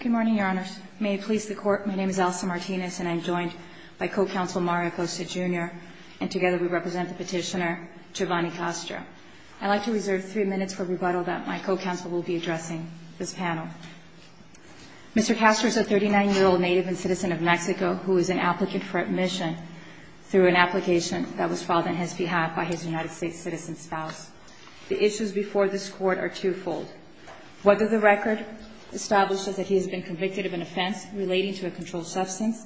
Good morning, Your Honors. May it please the Court, my name is Elsa Martinez and I'm joined by Co-Counsel Mario Costa, Jr., and together we represent the petitioner Giovanni Castro. I'd like to reserve three minutes for rebuttal that my Co-Counsel will be addressing this panel. Mr. Castro is a 39-year-old native and citizen of Mexico who is an applicant for admission through an application that was filed on his behalf by his United States citizen spouse. The issues before this Court are twofold. Whether the record establishes that he has been convicted of an offense relating to a controlled substance,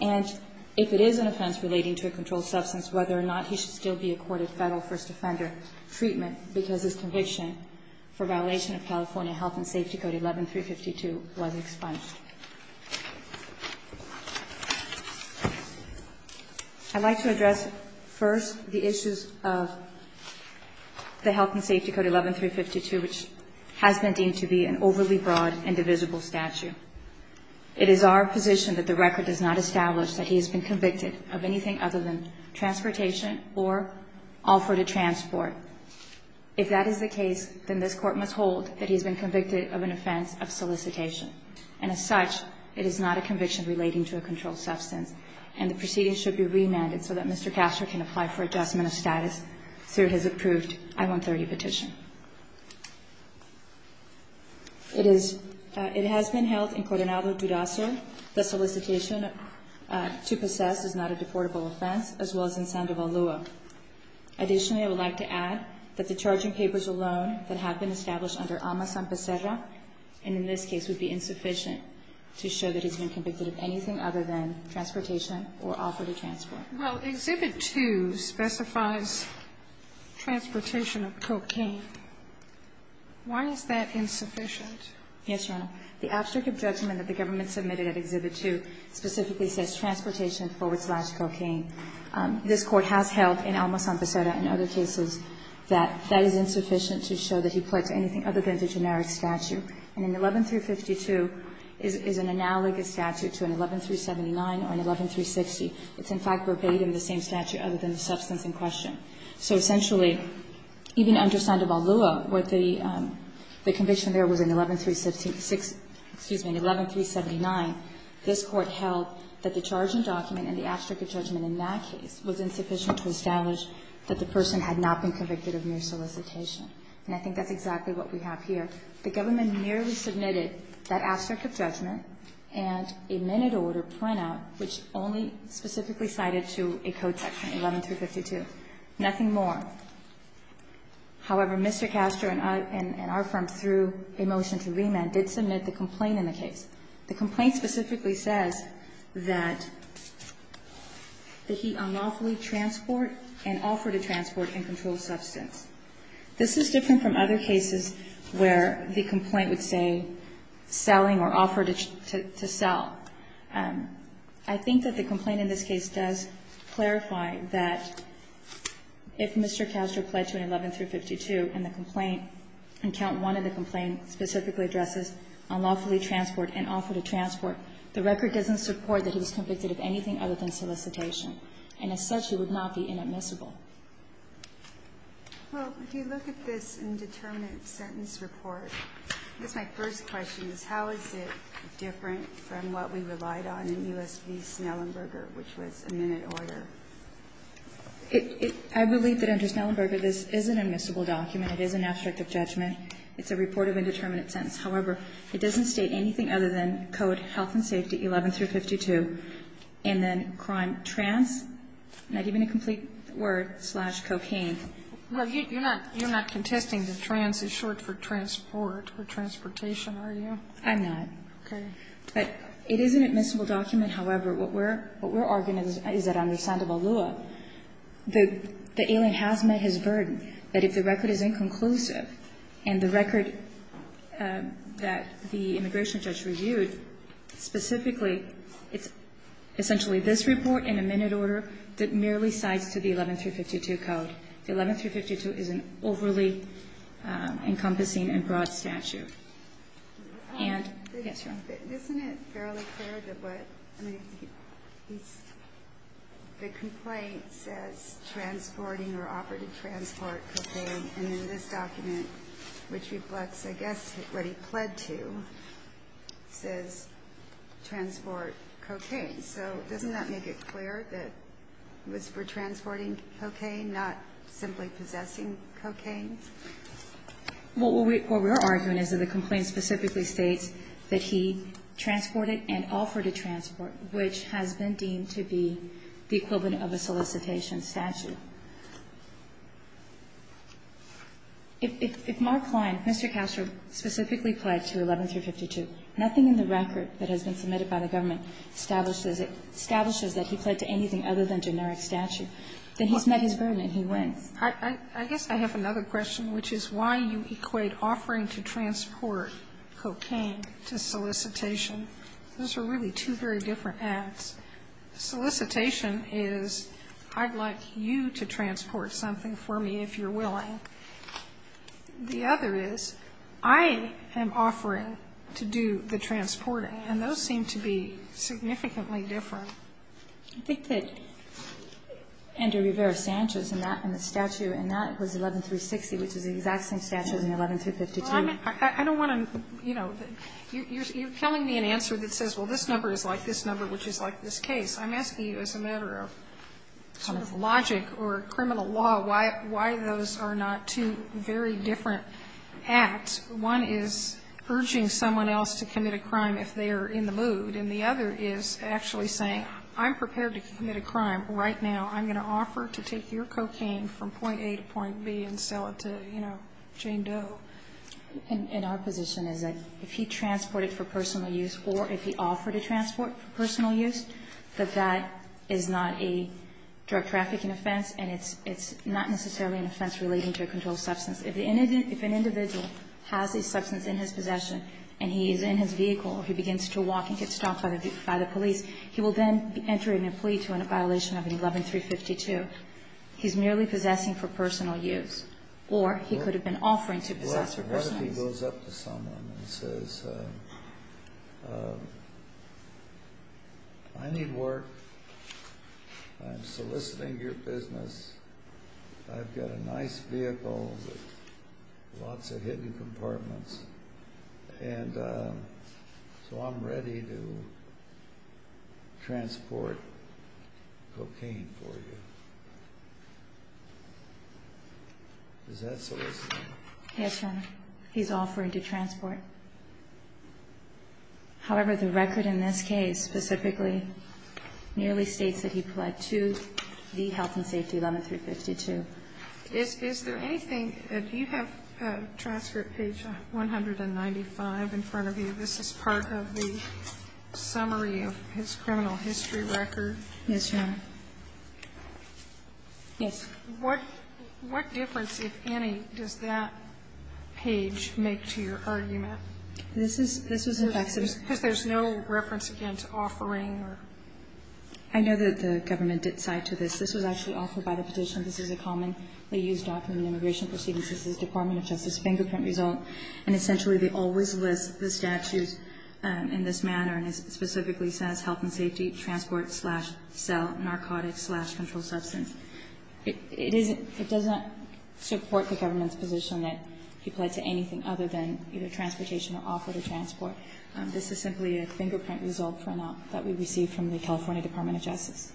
and if it is an offense relating to a controlled substance, whether or not he should still be accorded federal first offender treatment because his conviction for violation of California Health and Safety Code 11-352 was expunged. I'd like to address first the issues of the Health and Safety Code 11-352, which has been deemed to be an overly broad and divisible statute. It is our position that the record does not establish that he has been convicted of anything other than transportation or offer to transport. If that is the case, then this Court must hold that he has been convicted of an offense of solicitation. And as such, it is not a conviction relating to a controlled substance. And the proceedings should be remanded so that Mr. Castro can apply for adjustment of status through his approved I-130 petition. It has been held in Cordenado, Dudaso that solicitation to possess is not a deportable offense, as well as in Sandoval, Lua. Additionally, I would like to add that the charging papers alone that have been established under AMA-SANPESERRA and in this case would be insufficient to show that he's been convicted of anything other than transportation or offer to transport. Sotomayor, Exhibit 2 specifies transportation of cocaine. Why is that insufficient? Yes, Your Honor. The abstract judgment that the government submitted at Exhibit 2 specifically says transportation forward slash cocaine. This Court has held in AMA-SANPESERRA and other cases that that is insufficient to show that he pled to anything other than the generic statute. And an 11-352 is an analogous statute to an 11-379 or an 11-360. It's, in fact, verbatim the same statute other than the substance in question. So essentially, even under Sandoval, Lua, where the conviction there was an 11-366 excuse me, an 11-379, this Court held that the charging document and the abstract judgment in that case was insufficient to establish that the person had not been convicted of mere solicitation. And I think that's exactly what we have here. The government merely submitted that abstract judgment and a minute order printout, which only specifically cited to a code section, 11-352. Nothing more. However, Mr. Castor and our firm, through a motion to remand, did submit the complaint in the case. The complaint specifically says that he unlawfully transport and offered to transport and control substance. This is different from other cases where the complaint would say selling or offered to sell. I think that the complaint in this case does clarify that if Mr. Castor pledged to an 11-352 and the complaint, in count one of the complaint, specifically addresses unlawfully transport and offered to transport, the record doesn't support that he was convicted of anything other than solicitation. And as such, he would not be inadmissible. Ginsburg. Well, if you look at this indeterminate sentence report, I guess my first question is, how is it different from what we relied on in U.S. v. Snellenberger, which was a minute order? I believe that under Snellenberger, this is an admissible document. It is an abstract of judgment. It's a report of indeterminate sentence. However, it doesn't state anything other than code health and safety 11-352, and then crime trans, not even a complete word, slash cocaine. You're not contesting that trans is short for transport or transportation, are you? I'm not. Okay. But it is an admissible document. However, what we're arguing is that under Sandoval Lua, the alien has met his burden, that if the record is inconclusive and the record that the immigration judge reviewed specifically, it's essentially this report in a minute order that merely cites to the record that 11-352 is an overly encompassing and broad statute. Isn't it fairly clear that the complaint says transporting or operative transport cocaine, and in this document, which reflects, I guess, what he pled to, says transport cocaine. So doesn't that make it clear that it was for transporting cocaine, not simply possessing cocaine? Well, what we're arguing is that the complaint specifically states that he transported and offered a transport, which has been deemed to be the equivalent of a solicitation statute. If Mark Klein, Mr. Castro, specifically pled to 11-352, nothing in the record that establishes that he pled to anything other than generic statute, then he's met his burden and he wins. I guess I have another question, which is why you equate offering to transport cocaine to solicitation. Those are really two very different acts. Solicitation is I'd like you to transport something for me if you're willing. The other is I am offering to do the transporting, and those seem to be significant ly different. I think that Andrew Rivera-Sanchez in the statute in that was 11-360, which is the exact same statute in 11-352. Well, I don't want to, you know, you're telling me an answer that says, well, this number is like this number, which is like this case. I'm asking you as a matter of sort of logic or criminal law why those are not two very different acts. One is urging someone else to commit a crime if they are in the mood, and the other is actually saying, I'm prepared to commit a crime right now. I'm going to offer to take your cocaine from point A to point B and sell it to, you know, Jane Doe. And our position is that if he transported for personal use or if he offered to transport for personal use, that that is not a drug trafficking offense, and it's not necessarily an offense relating to a controlled substance. If an individual has a substance in his possession and he is in his vehicle or he begins to walk and gets stopped by the police, he will then enter into a plea to end a violation of 11-352. He's merely possessing for personal use, or he could have been offering to possess for personal use. Well, what if he goes up to someone and says, I need work. I'm soliciting your business. I've got a nice vehicle with lots of hidden compartments, and so I'm ready to go. I'm ready to transport cocaine for you. Is that soliciting? Yes, Your Honor. He's offering to transport. However, the record in this case specifically merely states that he pled to the health and safety 11-352. Is there anything? Do you have transfer at page 195 in front of you? This is part of the summary of his criminal history record. Yes, Your Honor. Yes. What difference, if any, does that page make to your argument? This was in fact submitted. Because there's no reference again to offering or? I know that the government did cite to this. This was actually offered by the petition. This is a commonly used document in immigration proceedings. This is the Department of Justice fingerprint result. And essentially they always list the statutes in this manner. And it specifically says health and safety, transport, slash, cell, narcotics, slash, controlled substance. It doesn't support the government's position that he pled to anything other than either transportation or offered a transport. This is simply a fingerprint result that we received from the California Department of Justice.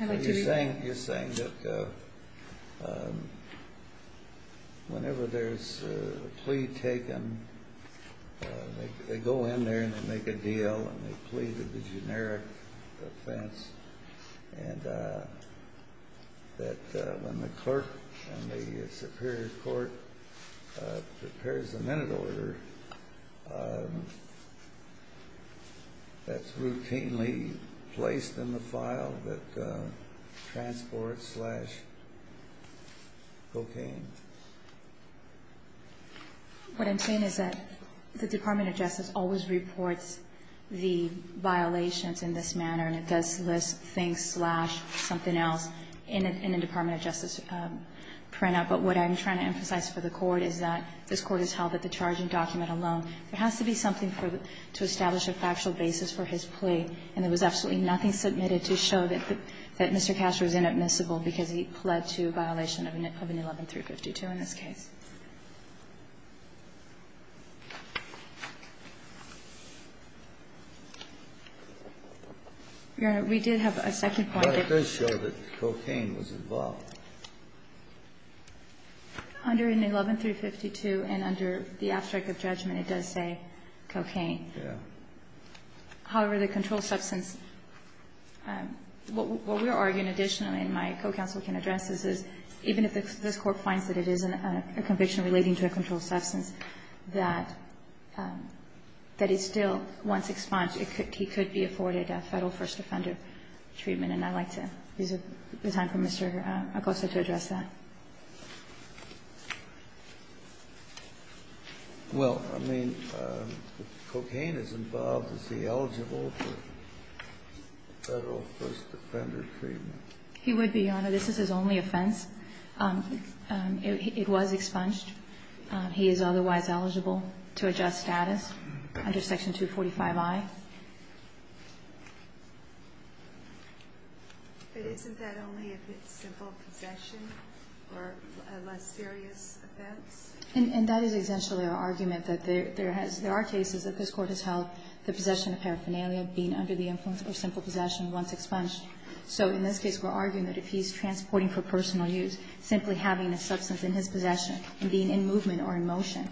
You're saying that whenever there's a plea taken, they go in there and they make a deal and they plead the generic offense. And that when the clerk and the superior court prepares the minute order, that's routinely placed in the file, that transport slash cocaine. What I'm saying is that the Department of Justice always reports the violations in this manner. And it does list things slash something else in a Department of Justice printout. But what I'm trying to emphasize for the Court is that this Court has held that the charging document alone, there has to be something to establish a factual basis for his plea. And there was absolutely nothing submitted to show that Mr. Castro is inadmissible because he pled to a violation of an 11352 in this case. Your Honor, we did have a second point. Under an 11352 and under the abstract of judgment, it does say cocaine. However, the controlled substance, what we're arguing additionally, and my co-counsel can address this, is even if this Court finds that it is a conviction relating to a controlled substance, that it still, once expunged, he could be afforded a Federal first offender treatment. And I'd like to use the time for Mr. Acosta to address that. Well, I mean, cocaine is involved. Is he eligible for Federal first offender treatment? He would be, Your Honor. This is his only offense. It was expunged. He is otherwise eligible to adjust status under Section 245i. But isn't that only if it's simple possession or a less serious offense? And that is essentially our argument, that there has been cases that this Court has held the possession of paraphernalia being under the influence of simple possession once expunged. So in this case, we're arguing that if he's transporting for personal use, simply having a substance in his possession and being in movement or in motion,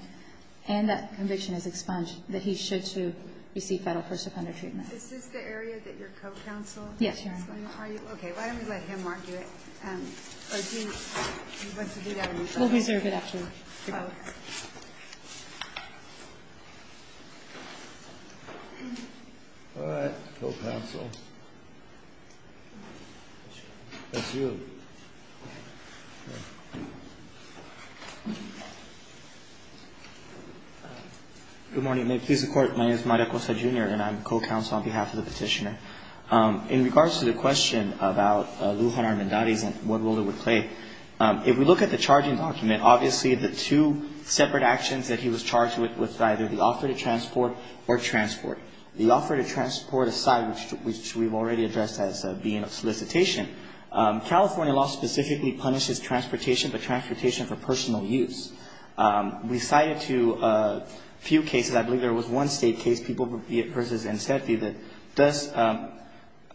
and that he's eligible for Federal first offender treatment. Is this the area that your co-counsel is going to argue? Yes, Your Honor. Okay. Why don't we let him argue it? Or do you want to do that on your own? We'll reserve it, actually. Okay. All right. Co-counsel. That's you. Good morning. May it please the Court, my name is Mario Cosa, Jr., and I'm co-counsel on behalf of the Petitioner. In regards to the question about Lujan Armendariz and what role it would play, if we look at the charging document, obviously the two separate actions that he was charged with was either the offer to transport or transport. The offer to transport aside, which we've already addressed as being a solicitation, California law specifically punishes transportation, but transportation for personal use. We cited a few cases. I believe there was one state case, Peoples v. Encefi, that does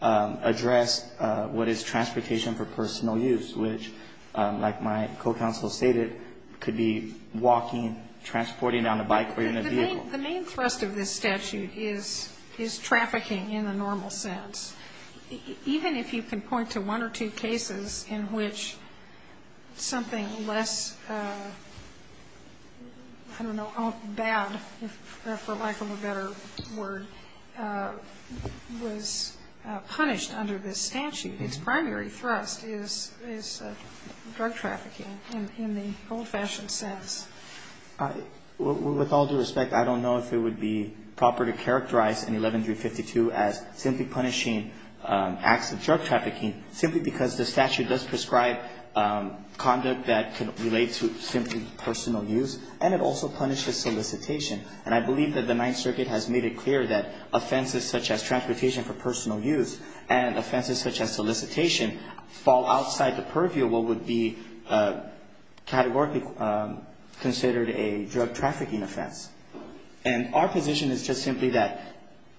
address what is transportation for personal use, which, like my co-counsel stated, could be walking, transporting on a bike or in a vehicle. The main thrust of this statute is trafficking in the normal sense. Even if you can point to one or two cases in which something less, I don't know, bad, for lack of a better word, was punished under this statute, its primary thrust is drug trafficking in the old-fashioned sense. With all due respect, I don't know if it would be proper to characterize in 11-352 as simply punishing acts of drug trafficking simply because the statute does prescribe conduct that can relate to simply personal use, and it also punishes solicitation. And I believe that the Ninth Circuit has made it clear that offenses such as transportation for personal use and offenses such as solicitation fall outside the purview of what would be categorically considered a drug trafficking offense. And our position is just simply that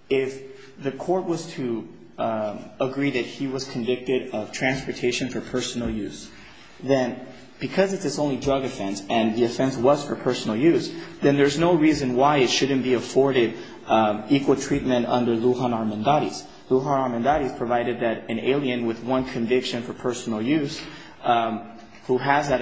if the court was to agree that he was convicted of transportation for personal use, then because it's its only drug offense and the offense was for personal use, then there's no reason why it shouldn't be afforded equal treatment under Lujan Armendariz. Lujan Armendariz provided that an alien with one conviction for personal use who has that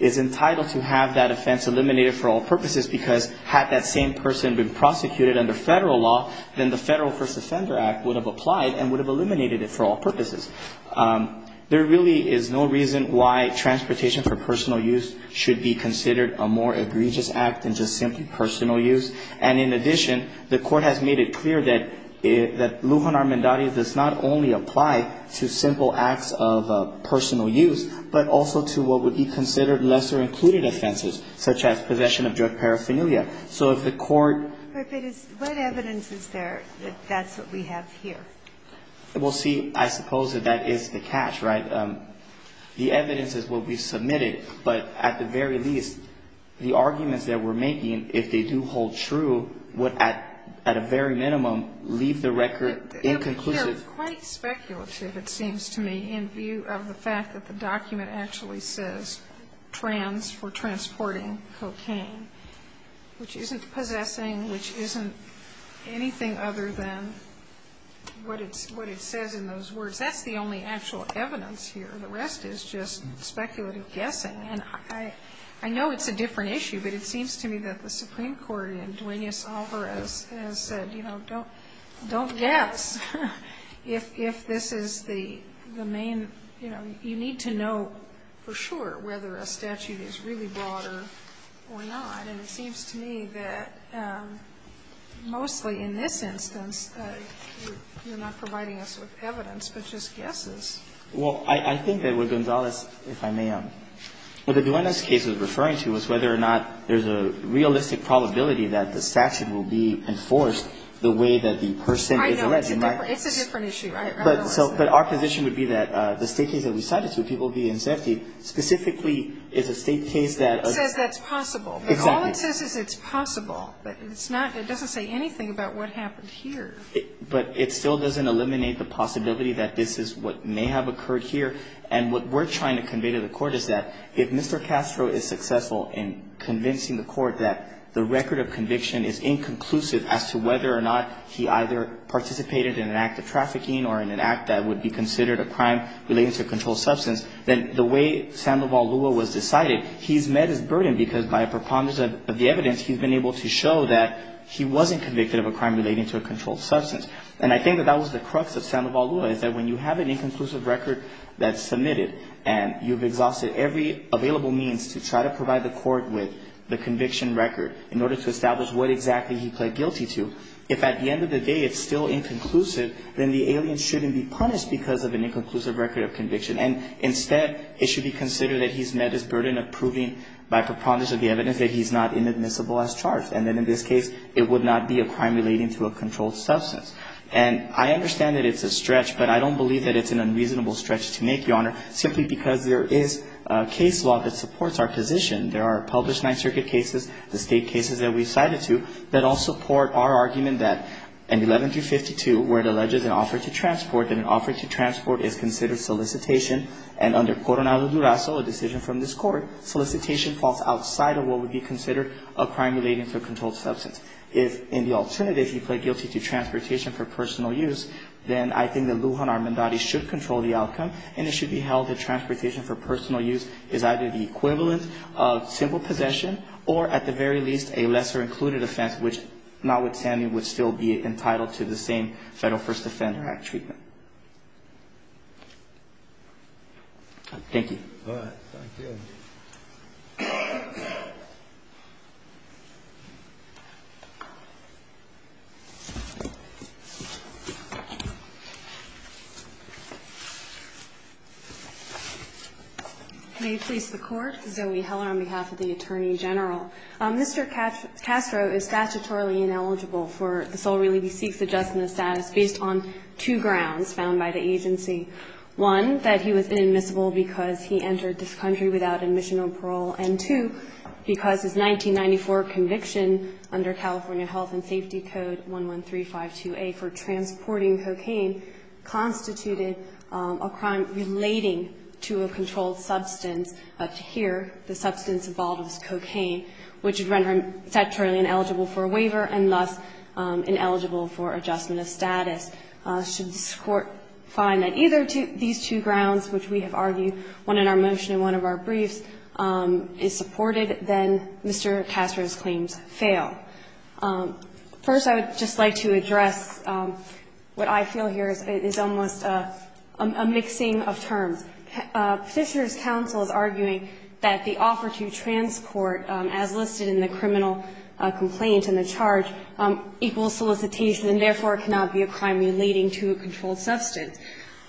is entitled to have that offense eliminated for all purposes because had that same person been prosecuted under federal law, then the Federal First Offender Act would have applied and would have eliminated it for all purposes. There really is no reason why transportation for personal use should be considered a more egregious act than just simply personal use. And in addition, the court has made it clear that Lujan Armendariz does not only apply to simple acts of personal use, but also to what would be considered lesser included offenses, such as possession of drug paraphernalia. So if the court ---- But if it is, what evidence is there that that's what we have here? Well, see, I suppose that that is the catch, right? The evidence is what we submitted, but at the very least, the arguments that we're making, if they do hold true, would at a very minimum leave the record inconclusive. But they're quite speculative, it seems to me, in view of the fact that the document actually says trans for transporting cocaine, which isn't possessing, which isn't anything other than what it says in those words. That's the only actual evidence here. The rest is just speculative guessing. And I know it's a different issue, but it seems to me that the Supreme Court, in Duenas-Alvarez, has said, you know, don't guess if this is the main, you know, you need to know for sure whether a statute is really broader or not. And it seems to me that mostly in this instance, you're not providing us with evidence, but just guesses. Well, I think that what Gonzalez, if I may, what the Duenas case is referring to is whether or not there's a realistic probability that the statute will be enforced the way that the person is alleged. I know. It's a different issue. I realize that. But our position would be that the State case that we cited to, people being inspected, specifically is a State case that ---- It says that's possible. Exactly. But all it says is it's possible. It doesn't say anything about what happened here. But it still doesn't eliminate the possibility that this is what may have occurred here. And what we're trying to convey to the Court is that if Mr. Castro is successful in convincing the Court that the record of conviction is inconclusive as to whether or not he either participated in an act of trafficking or in an act that would be considered a crime relating to a controlled substance, then the way Sandoval Lua was decided, he's met his burden because by a preponderance of the evidence, he's been able to show that he wasn't convicted of a crime relating to a controlled substance. And I think that that was the crux of Sandoval Lua is that when you have an inconclusive record that's submitted and you've exhausted every available means to try to provide the Court with the conviction record in order to establish what exactly he pled guilty to, if at the end of the day it's still inconclusive, then the alien shouldn't be punished because of an inconclusive record of conviction. And instead, it should be considered that he's met his burden of proving by preponderance of the evidence that he's not inadmissible as charged. And then in this case, it would not be a crime relating to a controlled substance. And I understand that it's a stretch, but I don't believe that it's an unreasonable stretch to make, Your Honor, simply because there is a case law that supports our position. There are published Ninth Circuit cases, the State cases that we've cited to, that all support our argument that in 11-52, where it alleges an offer to transport, that an offer to transport is considered solicitation, and under Coronado Durazo, a decision from this Court, solicitation falls outside of what would be considered a crime relating to a controlled substance. If, in the alternative, he pled guilty to transportation for personal use, then I think that Lujan Armendariz should control the outcome, and it should be held that transportation for personal use is either the equivalent of simple possession or, at the very least, a lesser-included offense, which, notwithstanding, would still be entitled to the same Federal First Offender Act treatment. Thank you. All right. Thank you. May it please the Court. Zoe Heller on behalf of the Attorney General. Mr. Castro is statutorily ineligible for the sole relief he seeks adjusting the status based on two grounds found by the agency, one, that he was inadmissible because he entered this country without admission or parole, and two, because his 1994 conviction under California Health and Safety Code 11352A for transporting cocaine constituted a crime relating to a controlled substance. Up to here, the substance involved was cocaine, which would render him statutorily ineligible for a waiver and, thus, ineligible for adjustment of status. Should this Court find that either these two grounds, which we have argued, one in our motion and one of our briefs, is supported, then Mr. Castro's claims fail. First, I would just like to address what I feel here is almost a mixing of terms. Petitioner's counsel is arguing that the offer to transport, as listed in the criminal complaint in the charge, equals solicitation and, therefore, cannot be a crime relating to a controlled substance.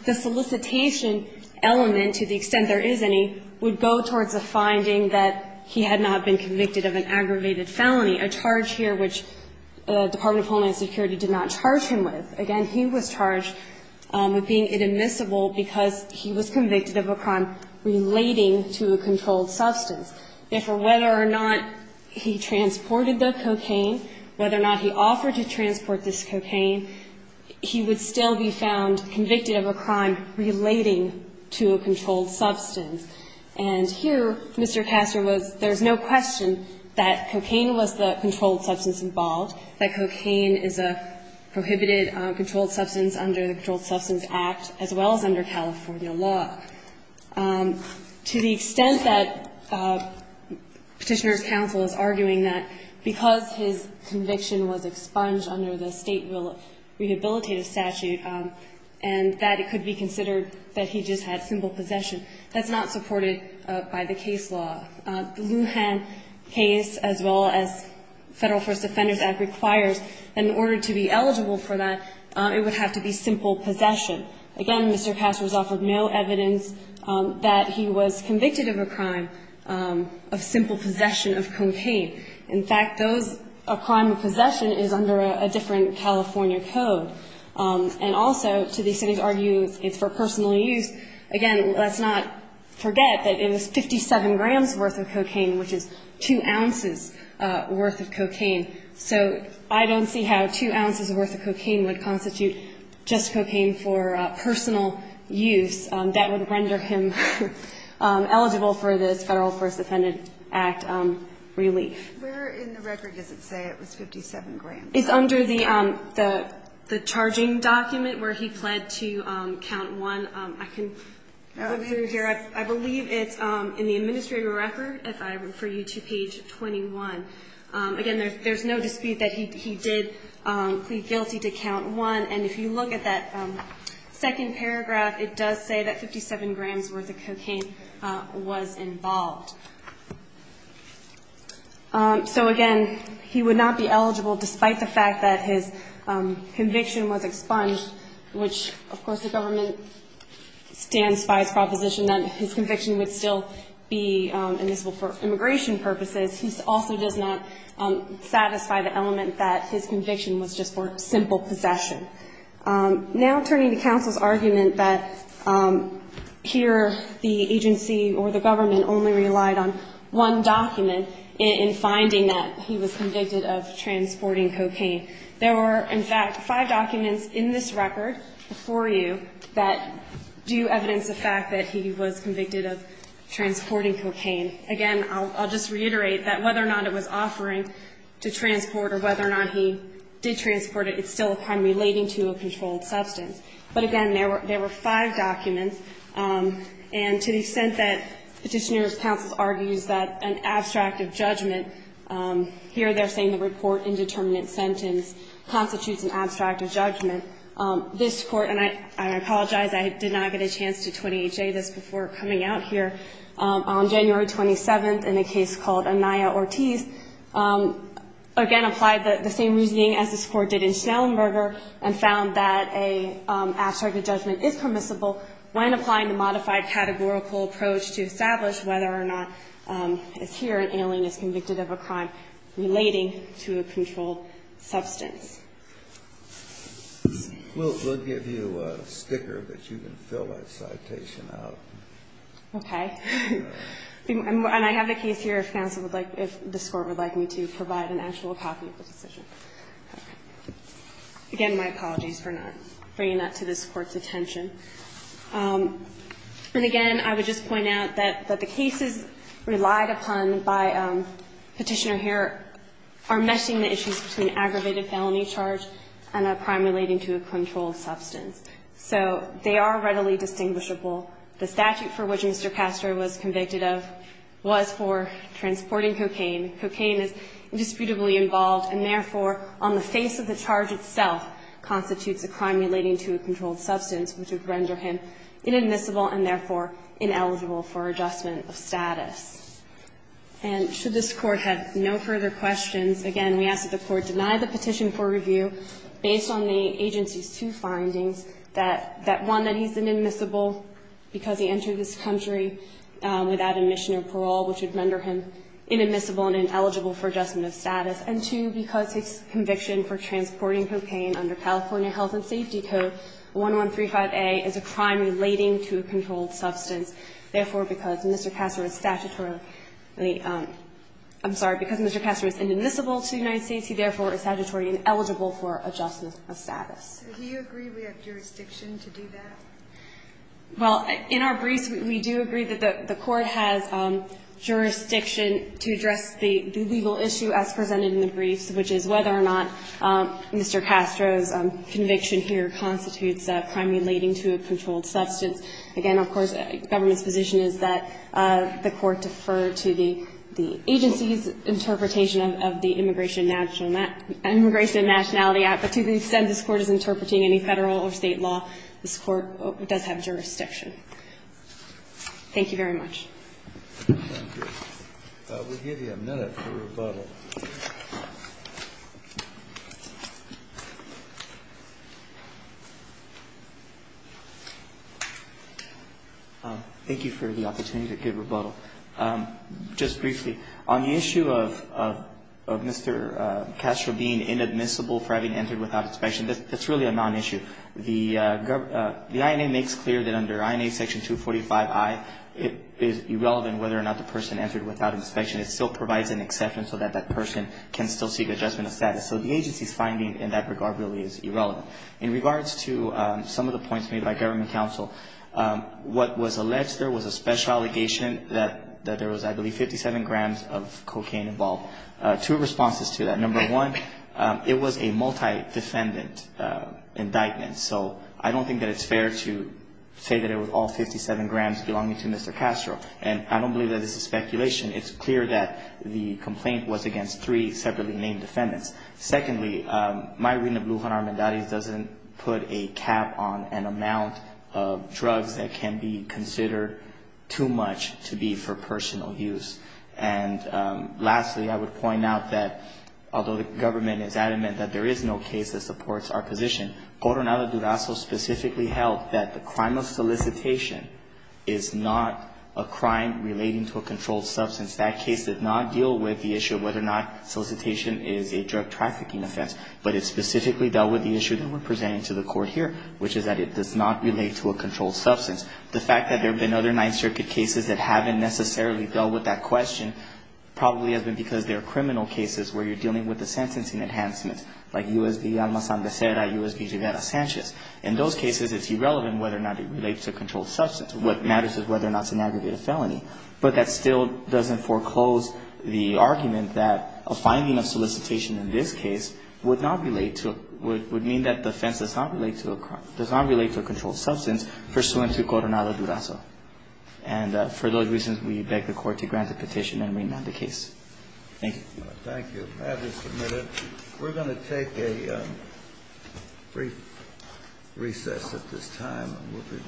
The solicitation element, to the extent there is any, would go towards the finding that he had not been convicted of an aggravated felony, a charge here which the Department of Homeland Security did not charge him with. Again, he was charged with being inadmissible because he was convicted of a crime relating to a controlled substance. Therefore, whether or not he transported the cocaine, whether or not he offered to transport this cocaine, he would still be found convicted of a crime relating to a controlled substance. And here, Mr. Castro was, there is no question that cocaine was the controlled substance involved, that cocaine is a prohibited controlled substance under the Controlled Substance Act, as well as under California law. To the extent that Petitioner's counsel is arguing that because his conviction was expunged under the State Will of Rehabilitative Statute and that it could be considered that he just had simple possession, that's not supported by the case law. The Lujan case, as well as Federal First Defenders Act requires, in order to be eligible for that, it would have to be simple possession. Again, Mr. Castro's offered no evidence that he was convicted of a crime of simple possession of cocaine. In fact, those, a crime of possession is under a different California code. And also, to the extent he's arguing it's for personal use, again, let's not forget that it was 57 grams worth of cocaine, which is 2 ounces worth of cocaine. So I don't see how 2 ounces worth of cocaine would constitute just cocaine for personal use. That would render him eligible for this Federal First Defender Act relief. Where in the record does it say it was 57 grams? It's under the charging document where he pled to count one. I can go through here. I believe it's in the administrative record, if I refer you to page 21. Again, there's no dispute that he did plead guilty to count one. And if you look at that second paragraph, it does say that 57 grams worth of cocaine was involved. So again, he would not be eligible despite the fact that his conviction was expunged, which, of course, the government stands by its proposition that his conviction would still be admissible for immigration purposes. He also does not satisfy the element that his conviction was just for simple possession. Now turning to counsel's argument that here the agency or the government only relied on one document in finding that he was convicted of transporting cocaine. There were, in fact, five documents in this record before you that do evidence of fact that he was convicted of transporting cocaine. Again, I'll just reiterate that whether or not it was offering to transport or whether or not he did transport it, it's still a crime relating to a controlled substance. But again, there were five documents. And to the extent that Petitioner's counsel argues that an abstract of judgment here they're saying the report indeterminate sentence constitutes an abstract of judgment, this Court, and I apologize, I did not get a chance to 20HA this before coming out here, on January 27th in a case called Anaya Ortiz, again applied the same reasoning as this Court did in Schnellenberger and found that an abstract of judgment is permissible when applying the modified categorical approach to establish whether or not it's here an alien is convicted of a crime relating to a controlled substance. We'll give you a sticker that you can fill that citation out. Okay. And I have the case here if counsel would like, if this Court would like me to provide an actual copy of the decision. Again, my apologies for not bringing that to this Court's attention. And again, I would just point out that the cases relied upon by Petitioner here are meshing the issues between aggravated felony charge and a crime relating to a controlled substance. So they are readily distinguishable. The statute for which Mr. Castro was convicted of was for transporting cocaine. Cocaine is indisputably involved, and therefore on the face of the charge itself constitutes a crime relating to a controlled substance, which would render him inadmissible and therefore ineligible for adjustment of status. And should this Court have no further questions, again, we ask that the Court deny the petition for review based on the agency's two findings, that one, that he's inadmissible because he entered this country without admission or parole, which would render him inadmissible and ineligible for adjustment of status, and two, because his conviction for transporting cocaine under California Health and Safety Code 1135A is a crime relating to a controlled substance. Therefore, because Mr. Castro is statutorily – I'm sorry, because Mr. Castro is inadmissible to the United States, he therefore is statutory ineligible for adjustment of status. Do you agree we have jurisdiction to do that? Well, in our briefs, we do agree that the Court has jurisdiction to address the legal issue as presented in the briefs, which is whether or not Mr. Castro's conviction here constitutes a crime relating to a controlled substance. Again, of course, the government's position is that the Court defer to the agency's interpretation of the Immigration and Nationality Act, but to the extent this Court is interpreting any Federal or State law, this Court does have jurisdiction. Thank you very much. Thank you. I will give you a minute for rebuttal. Thank you for the opportunity to give rebuttal. Just briefly, on the issue of Mr. Castro being inadmissible for having entered without inspection, that's really a nonissue. The INA makes clear that under INA Section 245I, it is irrelevant whether or not the person entered without inspection. It still provides an exception so that that person can still seek adjustment of status. So the agency's finding in that regard really is irrelevant. In regards to some of the points made by government counsel, what was alleged there was a special allegation that there was, I believe, 57 grams of cocaine involved. Two responses to that. Number one, it was a multi-defendant indictment. So I don't think that it's fair to say that it was all 57 grams belonging to Mr. Castro. And I don't believe that this is speculation. It's clear that the complaint was against three separately named defendants. Secondly, my reading of Lujan Armendariz doesn't put a cap on an amount of drugs that can be considered too much to be for personal use. And lastly, I would point out that although the government is adamant that there is no case that supports our position, Coronado Durazo specifically held that the crime of solicitation is not a crime relating to a controlled substance. That case did not deal with the issue of whether or not solicitation is a drug trafficking offense, but it specifically dealt with the issue that we're presenting to the court here, which is that it does not relate to a controlled substance. The fact that there have been other Ninth Circuit cases that haven't necessarily dealt with that question probably has been because there are criminal cases where you're dealing with the sentencing enhancements, like U.S. v. Alma-San Becerra, U.S. v. Rivera-Sanchez. In those cases, it's irrelevant whether or not it relates to a controlled substance. What matters is whether or not it's an aggravated felony. But that still doesn't foreclose the argument that a finding of solicitation in this case would mean that the offense does not relate to a controlled substance pursuant to Coronado Durazo. And for those reasons, we beg the court to grant the petition and remand the case. Thank you. Thank you. That is submitted. We're going to take a brief recess at this time, and we'll be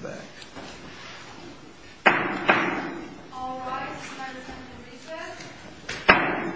back. All rise for the recess.